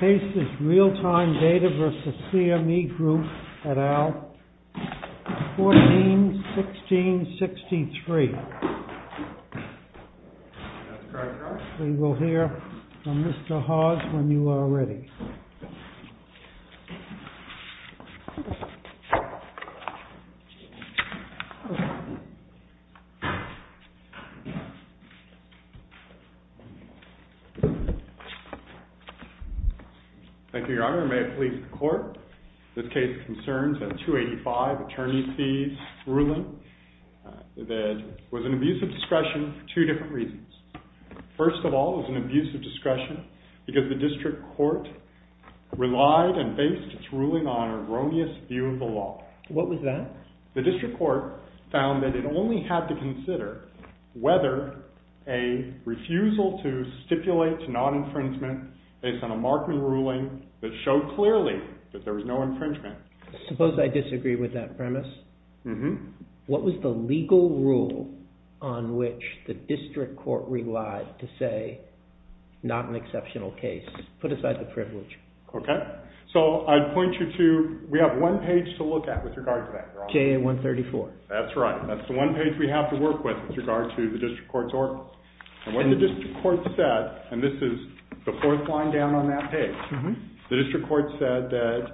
Case is Realtime Data v. CME Group at Aisle 14-16-63. We will hear from Mr. Hawes when you are ready. Thank you, Your Honor. May it please the Court, this case concerns a 285 Attorney's Fees ruling that was an abuse of discretion for two different reasons. First of all, it was an abuse of discretion because the District Court relied and based its ruling on an erroneous view of the law. What was that? The District Court found that it only had to consider whether a refusal to stipulate non-infringement based on a Markman ruling that showed clearly that there was no infringement. Suppose I disagree with that premise. What was the legal rule on which the District Court relied to say not an exceptional case? Put aside the privilege. Okay, so I'd point you to, we have one page to look at with regard to that, Your Honor. KA-134. That's right. That's the one page we have to work with with regard to the District Court's ordinance. And what the District Court said, and this is the fourth line down on that page, the District Court said that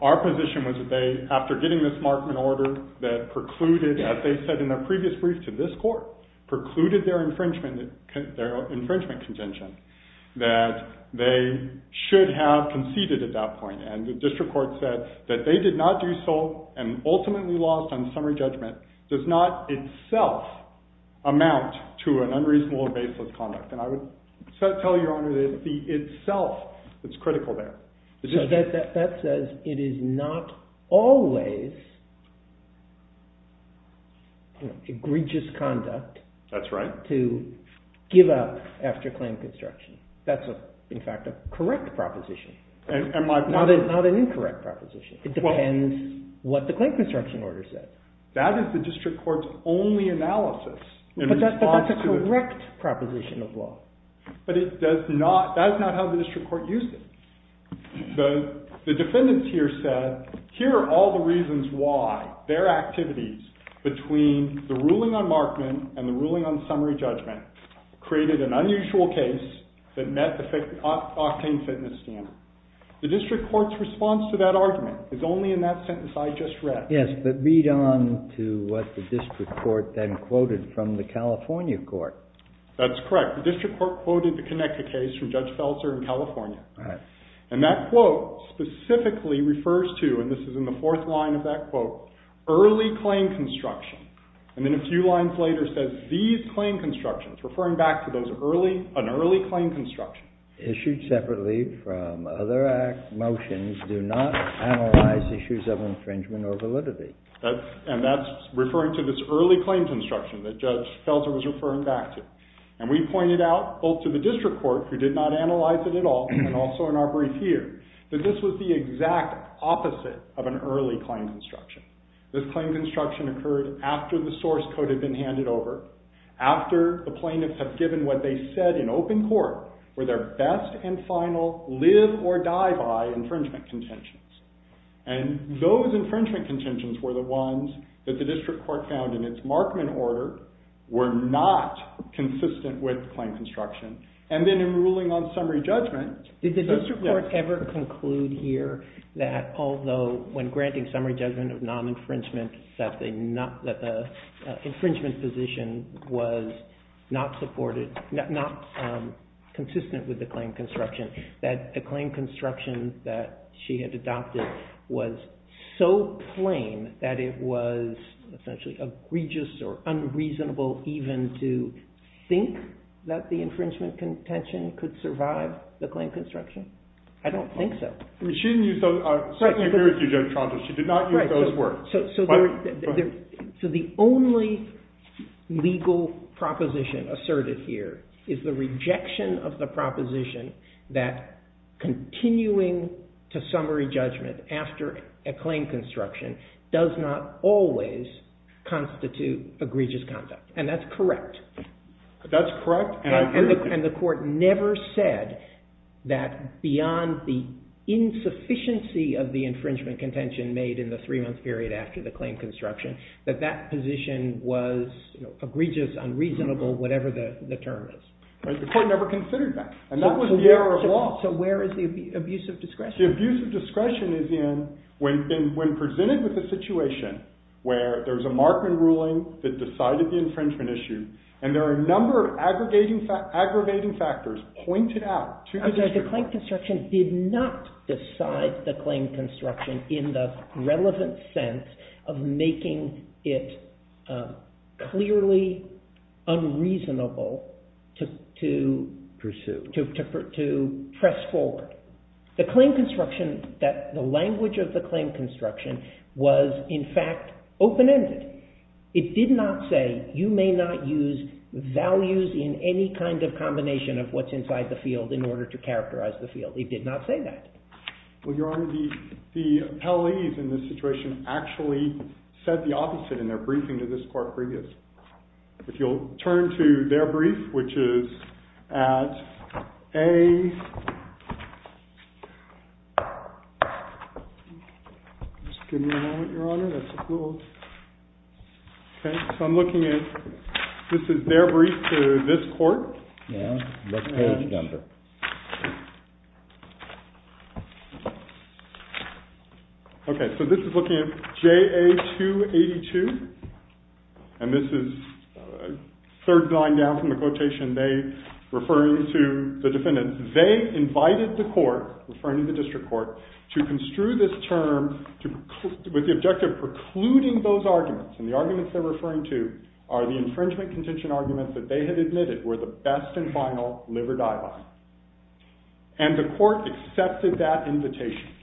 our position was that they, after getting this Markman order, that precluded, as they said in a previous brief to this Court, precluded their infringement contention, that they should have conceded at that point. And the District Court said that they did not do so, and ultimately lost on summary judgment, does not itself amount to an unreasonable or baseless conduct. And I would tell you, Your Honor, that the itself is critical there. So that says it is not always egregious conduct to give up after claim construction. That's in fact a correct proposition, not an incorrect proposition. It depends what the claim construction order said. That is the District Court's only analysis. But that's a correct proposition of law. But it does not, that is not how the District Court used it. The defendants here said, here are all the reasons why their activities between the ruling on Markman and the ruling on summary judgment created an unusual case that met the octane fitness standard. The District Court's response to that argument is only in that sentence I just read. Yes, but read on to what the District Court then quoted from the California court. That's correct. The District Court quoted the Connecticut case from Judge Feltzer in California. And that quote specifically refers to, and this is in the fourth line of that quote, early claim construction. And then a few lines later says, these claim constructions, referring back to those early, an early claim construction. Issued separately from other act motions do not analyze issues of infringement or validity. And that's referring to this early claim construction that Judge Feltzer was referring back to. And we pointed out, both to the District Court, who did not analyze it at all, and also in our brief here, that this was the exact opposite of an early claim construction. This claim construction occurred after the source code had been handed over. After the plaintiffs have given what they said in open court were their best and final live or die by infringement contentions. And those infringement contentions were the ones that the District Court found in its Markman order were not consistent with claim construction. And then in ruling on summary judgment. Did the District Court ever conclude here that although when granting summary judgment of non-infringement, that the infringement position was not supported, not consistent with the claim construction, that the claim construction that she had adopted was so plain that it was essentially egregious or unreasonable even to think that the infringement contention could survive the claim construction? I don't think so. She didn't use those. I certainly agree with you, Judge Trotter. She did not use those words. So the only legal proposition asserted here is the rejection of the proposition that continuing to summary judgment after a claim construction does not always constitute egregious conduct. And that's correct. That's correct, and I agree with you. And the court never said that beyond the insufficiency of the infringement contention made in the three-month period after the claim construction, that that position was egregious, unreasonable, whatever the term is. The court never considered that, and that was the error of law. So where is the abuse of discretion? The abuse of discretion is when presented with a situation where there's a Markman ruling that decided the infringement issue, and there are a number of aggravating factors pointed out. The claim construction did not decide the claim construction in the relevant sense of making it clearly unreasonable to press forward. The claim construction, the language of the claim construction was, in fact, open-ended. It did not say, you may not use values in any kind of combination of what's inside the field in order to characterize the field. It did not say that. Well, Your Honor, the appellees in this situation actually said the opposite in their briefing to this court previous. If you'll turn to their brief, which is at A. Just give me a moment, Your Honor. That's a little. Okay. So I'm looking at, this is their brief to this court. Yeah. What page number? Okay. So this is looking at J.A. 282, and this is a third line down from the quotation, referring to the defendants. They invited the court, referring to the district court, to construe this term with the objective of precluding those arguments. And the arguments they're referring to are the infringement contention arguments that they had admitted were the best and final liver dialogue. And the court accepted that invitation.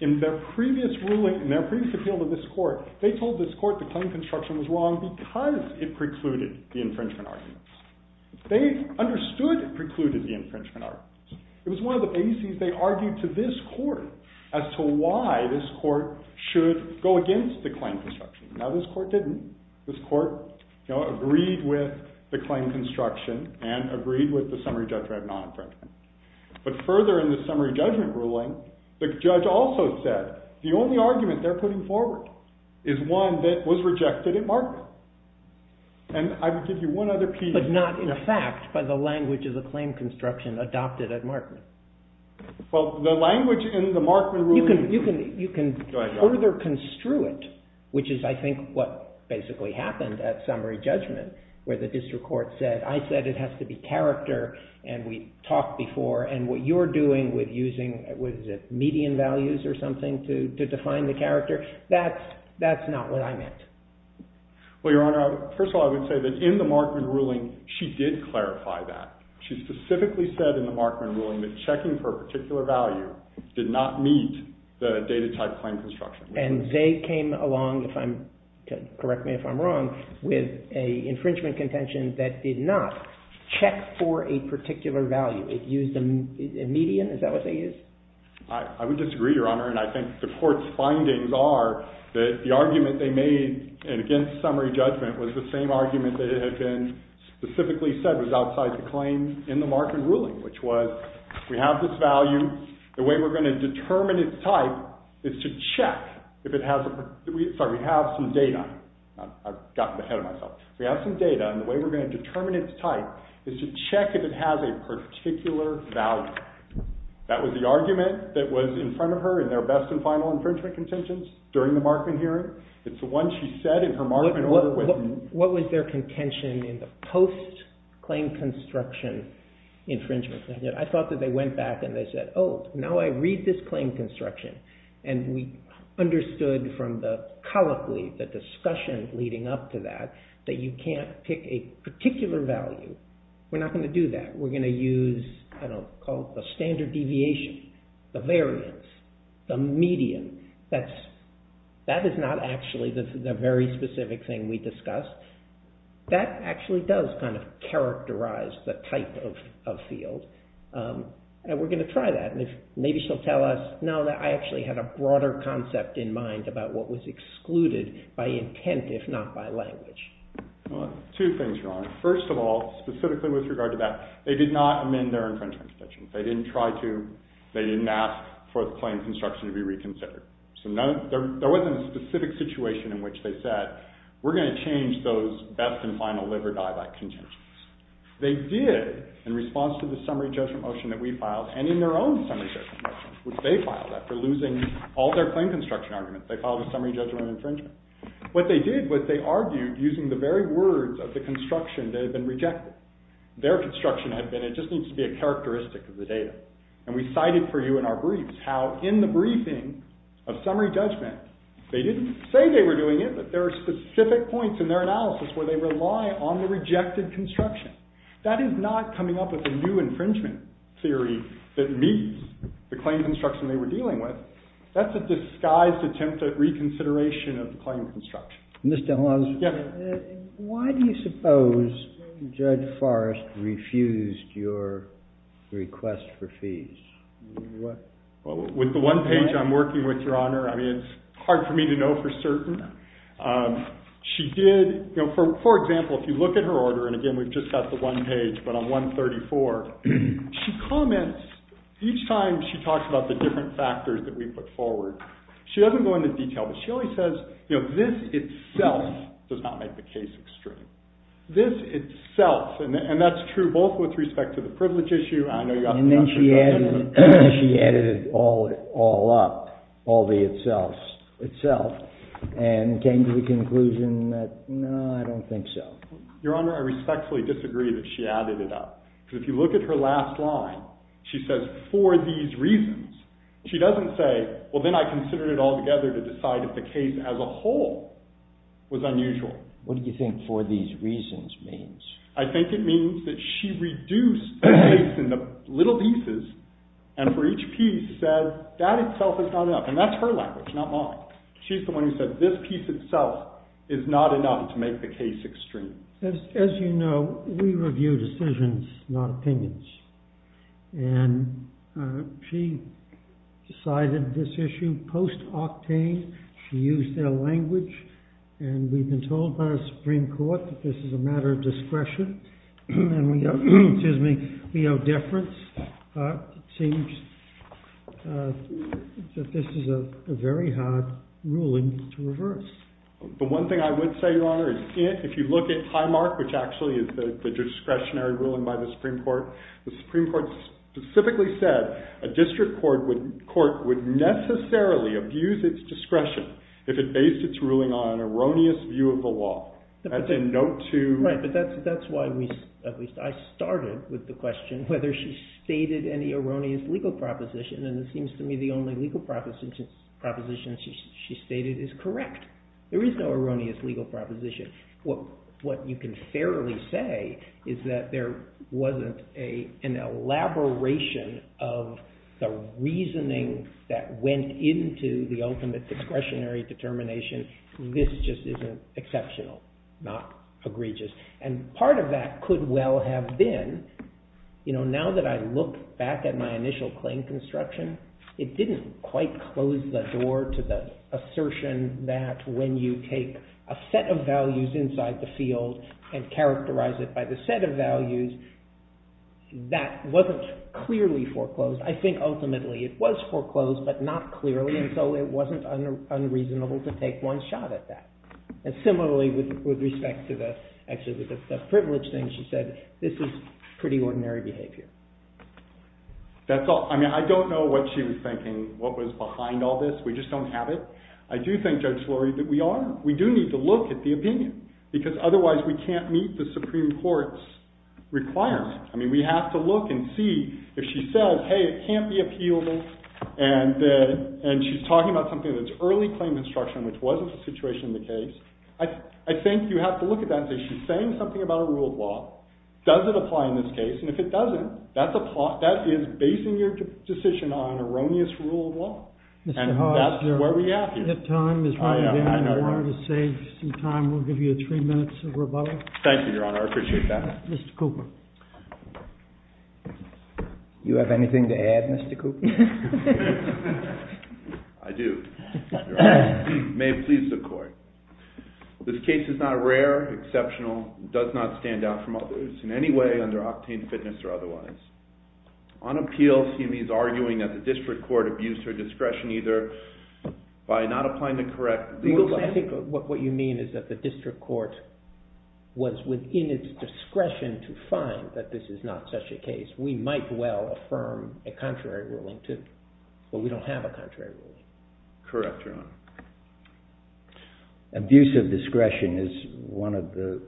In their previous ruling, in their previous appeal to this court, they told this court the claim construction was wrong because it precluded the infringement arguments. They understood it precluded the infringement arguments. It was one of the bases they argued to this court as to why this court should go against the claim construction. Now this court didn't. This court agreed with the claim construction and agreed with the summary judgment of non-infringement. But further in the summary judgment ruling, the judge also said the only argument they're putting forward is one that was rejected at Markman. And I would give you one other piece. But not in effect by the language of the claim construction adopted at Markman. Well, the language in the Markman ruling. You can further construe it, which is, I think, what basically happened at summary judgment, where the district court said, I said it has to be character, and we talked before. And what you're doing with using median values or something to define the character, that's not what I meant. Well, Your Honor, first of all, I would say that in the Markman ruling, she did clarify that. She specifically said in the Markman ruling that checking for a particular value did not meet the data type claim construction. And they came along, correct me if I'm wrong, with an infringement contention that did not check for a particular value. It used a median? Is that what they used? I would disagree, Your Honor. And I think the court's findings are that the argument they made against summary judgment was the same argument that had been specifically said was outside the claim in the Markman ruling, which was, we have this value. The way we're going to determine its type is to check if it has a particular value. Sorry, we have some data. I've gotten ahead of myself. We have some data. And the way we're going to determine its type is to check if it has a particular value. That was the argument that was in front of her in their best and final infringement contentions during the Markman hearing. It's the one she said in her Markman order. What was their contention in the post-claim construction infringement? I thought that they went back and they said, oh, now I read this claim construction. And we understood from the colloquy, the discussion leading up to that, that you can't pick a particular value. We're not going to do that. We're going to use the standard deviation, the variance, the median. That is not actually the very specific thing we discussed. That actually does kind of characterize the type of field. And we're going to try that. Maybe she'll tell us. No, I actually had a broader concept in mind about what was excluded by intent, if not by language. Two things wrong. First of all, specifically with regard to that, they did not amend their infringement contentions. They didn't try to. They didn't ask for the claim construction to be reconsidered. So there wasn't a specific situation in which they said, we're going to change those best and final liver-die-back contentions. They did in response to the summary judgment motion that we filed, and in their own summary judgment motion, which they filed after losing all their claim construction arguments. They filed a summary judgment infringement. What they did was they argued using the very words of the construction that had been rejected. Their construction had been, it just needs to be a characteristic of the data. And we cited for you in our briefs how in the briefing of summary judgment, they didn't say they were doing it, but there are specific points in their analysis where they rely on the rejected construction. That is not coming up with a new infringement theory that meets the claim construction they were dealing with. That's a disguised attempt at reconsideration of the claim construction. Mr. Hawes, why do you suppose Judge Forrest refused your request for fees? With the one page I'm working with, Your Honor, I mean, it's hard for me to know for certain. She did, you know, for example, if you look at her order, and again, we've just got the one page, but on 134, she comments each time she talks about the different factors that we put forward. She doesn't go into detail, but she always says, you know, this itself does not make the case extreme. This itself, and that's true both with respect to the privilege issue, and I know you've got the other judgment. And then she added it all up, all the itself, and came to the conclusion that, no, I don't think so. Your Honor, I respectfully disagree that she added it up. Because if you look at her last line, she says, for these reasons. She doesn't say, well, then I considered it altogether to decide if the case as a whole was unusual. What do you think for these reasons means? I think it means that she reduced the case into little pieces, and for each piece said, that itself is not enough. And that's her language, not mine. She's the one who said, this piece itself is not enough to make the case extreme. As you know, we review decisions, not opinions. And she decided this issue post-octane. She used their language. And we've been told by the Supreme Court that this is a matter of discretion. And we owe deference. It seems that this is a very hard ruling to reverse. The one thing I would say, Your Honor, is if you look at Highmark, which actually is the discretionary ruling by the Supreme Court, the Supreme Court specifically said a district court would necessarily abuse its discretion if it based its ruling on an erroneous view of the law. Right, but that's why I started with the question whether she stated any erroneous legal proposition. And it seems to me the only legal proposition she stated is correct. There is no erroneous legal proposition. What you can fairly say is that there wasn't an elaboration of the reasoning that went into the ultimate discretionary determination. This just isn't exceptional, not egregious. And part of that could well have been, you know, now that I look back at my initial claim construction, it didn't quite close the door to the assertion that when you take a set of values inside the field and characterize it by the set of values, that wasn't clearly foreclosed. I think ultimately it was foreclosed, but not clearly. And so it wasn't unreasonable to take one shot at that. And similarly, with respect to the privilege thing she said, this is pretty ordinary behavior. That's all. I mean, I don't know what she was thinking, what was behind all this. We just don't have it. I do think, Judge Lurie, that we are. We do need to look at the opinion because otherwise we can't meet the Supreme Court's requirement. I mean, we have to look and see if she says, hey, it can't be appealable, and she's talking about something that's early claim construction, which wasn't the situation in the case. I think you have to look at that and say, she's saying something about a rule of law. Does it apply in this case? And if it doesn't, that is basing your decision on erroneous rule of law. And that's where we are here. I know. I know. If time is not available, I wanted to save some time. We'll give you three minutes of rebuttal. Thank you, Your Honor. I appreciate that. Mr. Cooper. Do you have anything to add, Mr. Cooper? I do. Your Honor, may it please the Court. This case is not rare, exceptional, does not stand out from others in any way under octane fitness or otherwise. On appeals, he is arguing that the district court abused her discretion either by not applying the correct legal— It's a question to find that this is not such a case. We might well affirm a contrary ruling, too. But we don't have a contrary ruling. Correct, Your Honor. Abuse of discretion is one of the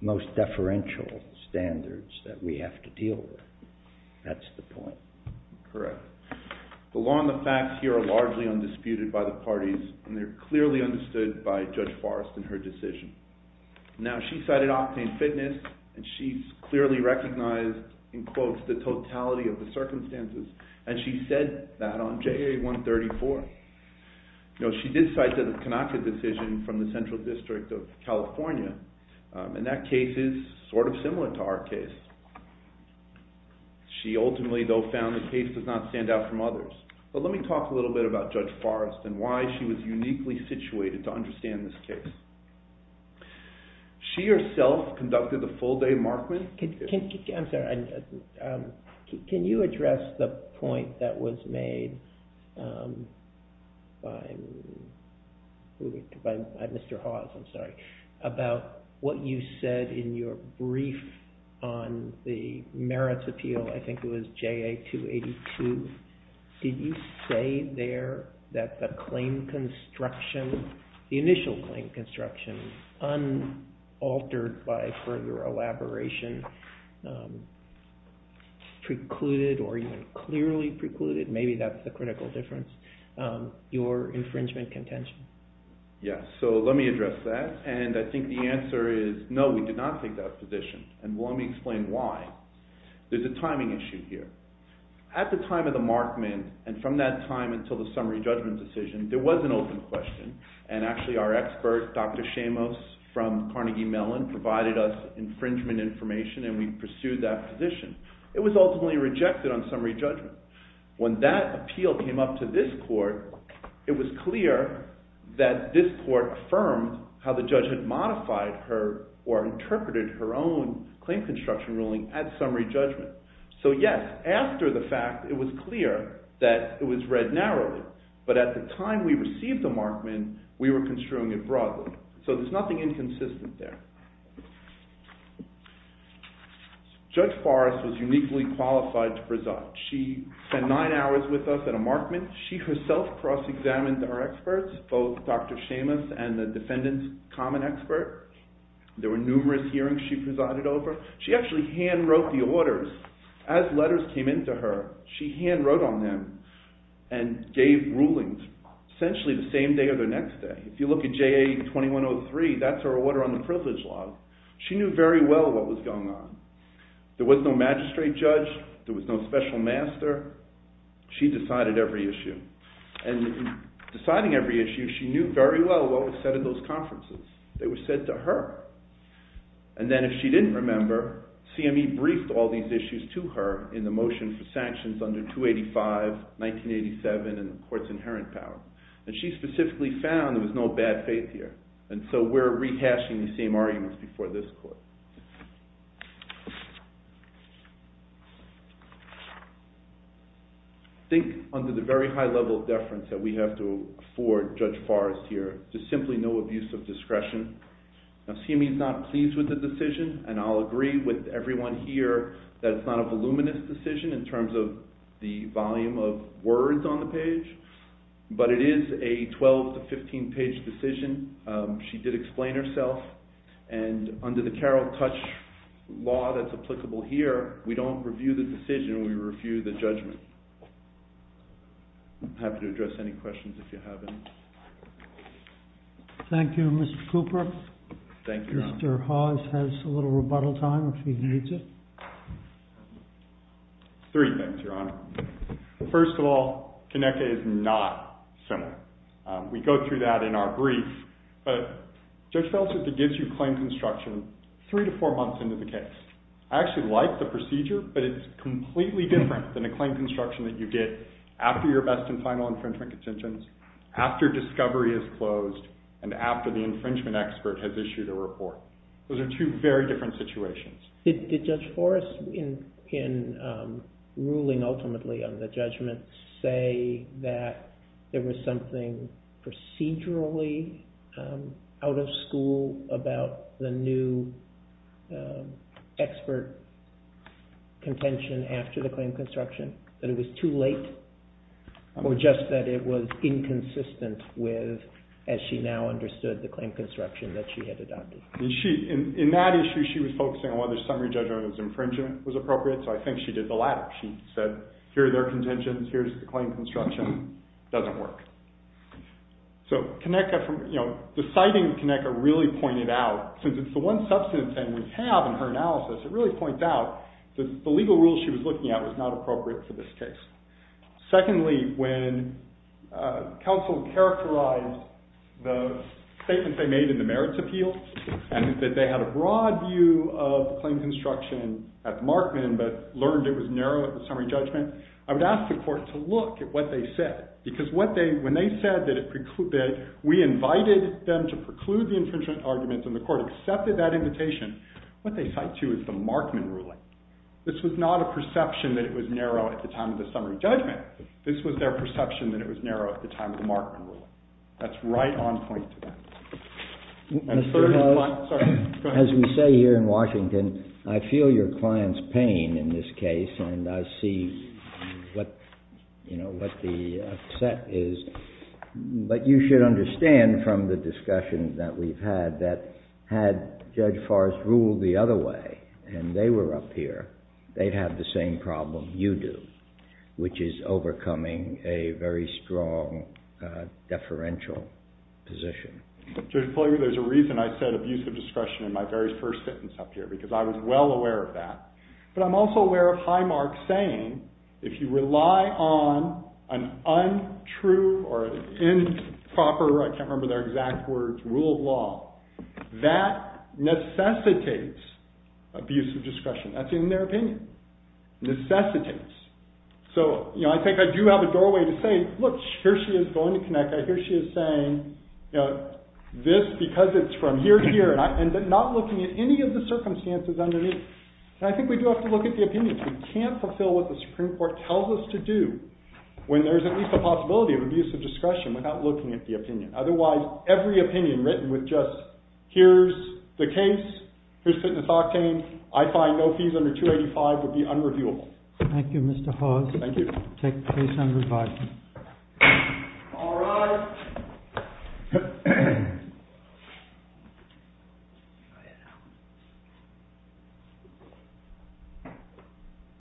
most deferential standards that we have to deal with. That's the point. Correct. The law and the facts here are largely undisputed by the parties, and they're clearly understood by Judge Forrest in her decision. Now, she cited octane fitness, and she's clearly recognized, in quotes, the totality of the circumstances, and she said that on JA-134. She did cite the Kanaka decision from the Central District of California, and that case is sort of similar to our case. She ultimately, though, found the case does not stand out from others. But let me talk a little bit about Judge Forrest and why she was uniquely situated to understand this case. She herself conducted the full-day markman. I'm sorry. Can you address the point that was made by Mr. Hawes, I'm sorry, about what you said in your brief on the merits appeal? I think it was JA-282. Did you say there that the claim construction, the initial claim construction, unaltered by further elaboration, precluded or even clearly precluded, maybe that's the critical difference, your infringement contention? Yes. So let me address that. And I think the answer is no, we did not take that position. And let me explain why. There's a timing issue here. At the time of the markman, and from that time until the summary judgment decision, there was an open question. And actually our expert, Dr. Shamos from Carnegie Mellon, provided us infringement information, and we pursued that position. It was ultimately rejected on summary judgment. When that appeal came up to this court, it was clear that this court affirmed how the judge had modified her or interpreted her own claim construction ruling at summary judgment. So yes, after the fact, it was clear that it was read narrowly. But at the time we received the markman, we were construing it broadly. So there's nothing inconsistent there. Judge Forrest was uniquely qualified to preside. She spent nine hours with us at a markman. She herself cross-examined our experts, both Dr. Shamos and the defendant's common expert. There were numerous hearings she presided over. She actually hand-wrote the orders. As letters came in to her, she hand-wrote on them and gave rulings essentially the same day or the next day. If you look at JA-2103, that's her order on the privilege law. She knew very well what was going on. There was no magistrate judge. There was no special master. She decided every issue. And in deciding every issue, she knew very well what was said at those conferences. They were said to her. And then if she didn't remember, CME briefed all these issues to her in the motion for sanctions under 285, 1987, and the court's inherent power. And she specifically found there was no bad faith here. And so we're rehashing the same arguments before this court. I think under the very high level of deference that we have to afford Judge Forrest here, there's simply no abuse of discretion. CME is not pleased with the decision. And I'll agree with everyone here that it's not a voluminous decision in terms of the volume of words on the page. But it is a 12- to 15-page decision. She did explain herself. And under the Carroll Touch law that's applicable here, we don't review the decision. We review the judgment. I'm happy to address any questions if you have any. Thank you, Mr. Cooper. Thank you, Your Honor. Mr. Hawes has a little rebuttal time if he needs it. Three things, Your Honor. First of all, Conecuh is not similar. We go through that in our brief. But Judge Veltzer gives you claim construction three to four months into the case. I actually like the procedure, but it's completely different than a claim construction that you get after your best and final infringement contentions, after discovery is closed, and after the infringement expert has issued a report. Those are two very different situations. Did Judge Forrest, in ruling ultimately on the judgment, say that there was something procedurally out of school about the new expert contention after the claim construction? That it was too late? Or just that it was inconsistent with, as she now understood, the claim construction that she had adopted? In that issue, she was focusing on whether summary judgment infringement was appropriate, so I think she did the latter. She said, here are their contentions. Here's the claim construction. It doesn't work. So deciding Conecuh really pointed out, since it's the one substantive thing we have in her analysis, it really points out that the legal rules she was looking at was not appropriate for this case. Secondly, when counsel characterized the statements they made in the merits appeal, and that they had a broad view of the claim construction at the Markman, but learned it was narrow at the summary judgment, I would ask the court to look at what they said. Because when they said that we invited them to preclude the infringement arguments, and the court accepted that invitation, what they cite to is the Markman ruling. This was not a perception that it was narrow at the time of the summary judgment. This was their perception that it was narrow at the time of the Markman ruling. That's right on point to them. As we say here in Washington, I feel your client's pain in this case. And I see what the set is. But you should understand from the discussion that we've had that had Judge Forrest ruled the other way, and they were up here, they'd have the same problem you do, which is overcoming a very strong deferential position. Judge Ploeger, there's a reason I said abusive discretion in my very first sentence up here, because I was well aware of that. But I'm also aware of Highmark saying if you rely on an untrue or improper, I can't remember their exact words, rule of law, that necessitates abusive discretion. That's in their opinion. Necessitates. So, you know, I think I do have a doorway to say, look, here she is going to connect. I hear she is saying, you know, this because it's from here to here, and not looking at any of the circumstances underneath. And I think we do have to look at the opinions. We can't fulfill what the Supreme Court tells us to do when there's at least a possibility of abusive discretion without looking at the opinion. Otherwise, every opinion written with just here's the case, here's fitness octane, I find no fees under 285 would be unreviewable. Thank you, Mr. Hawes. Thank you. Take the case under review. All rise.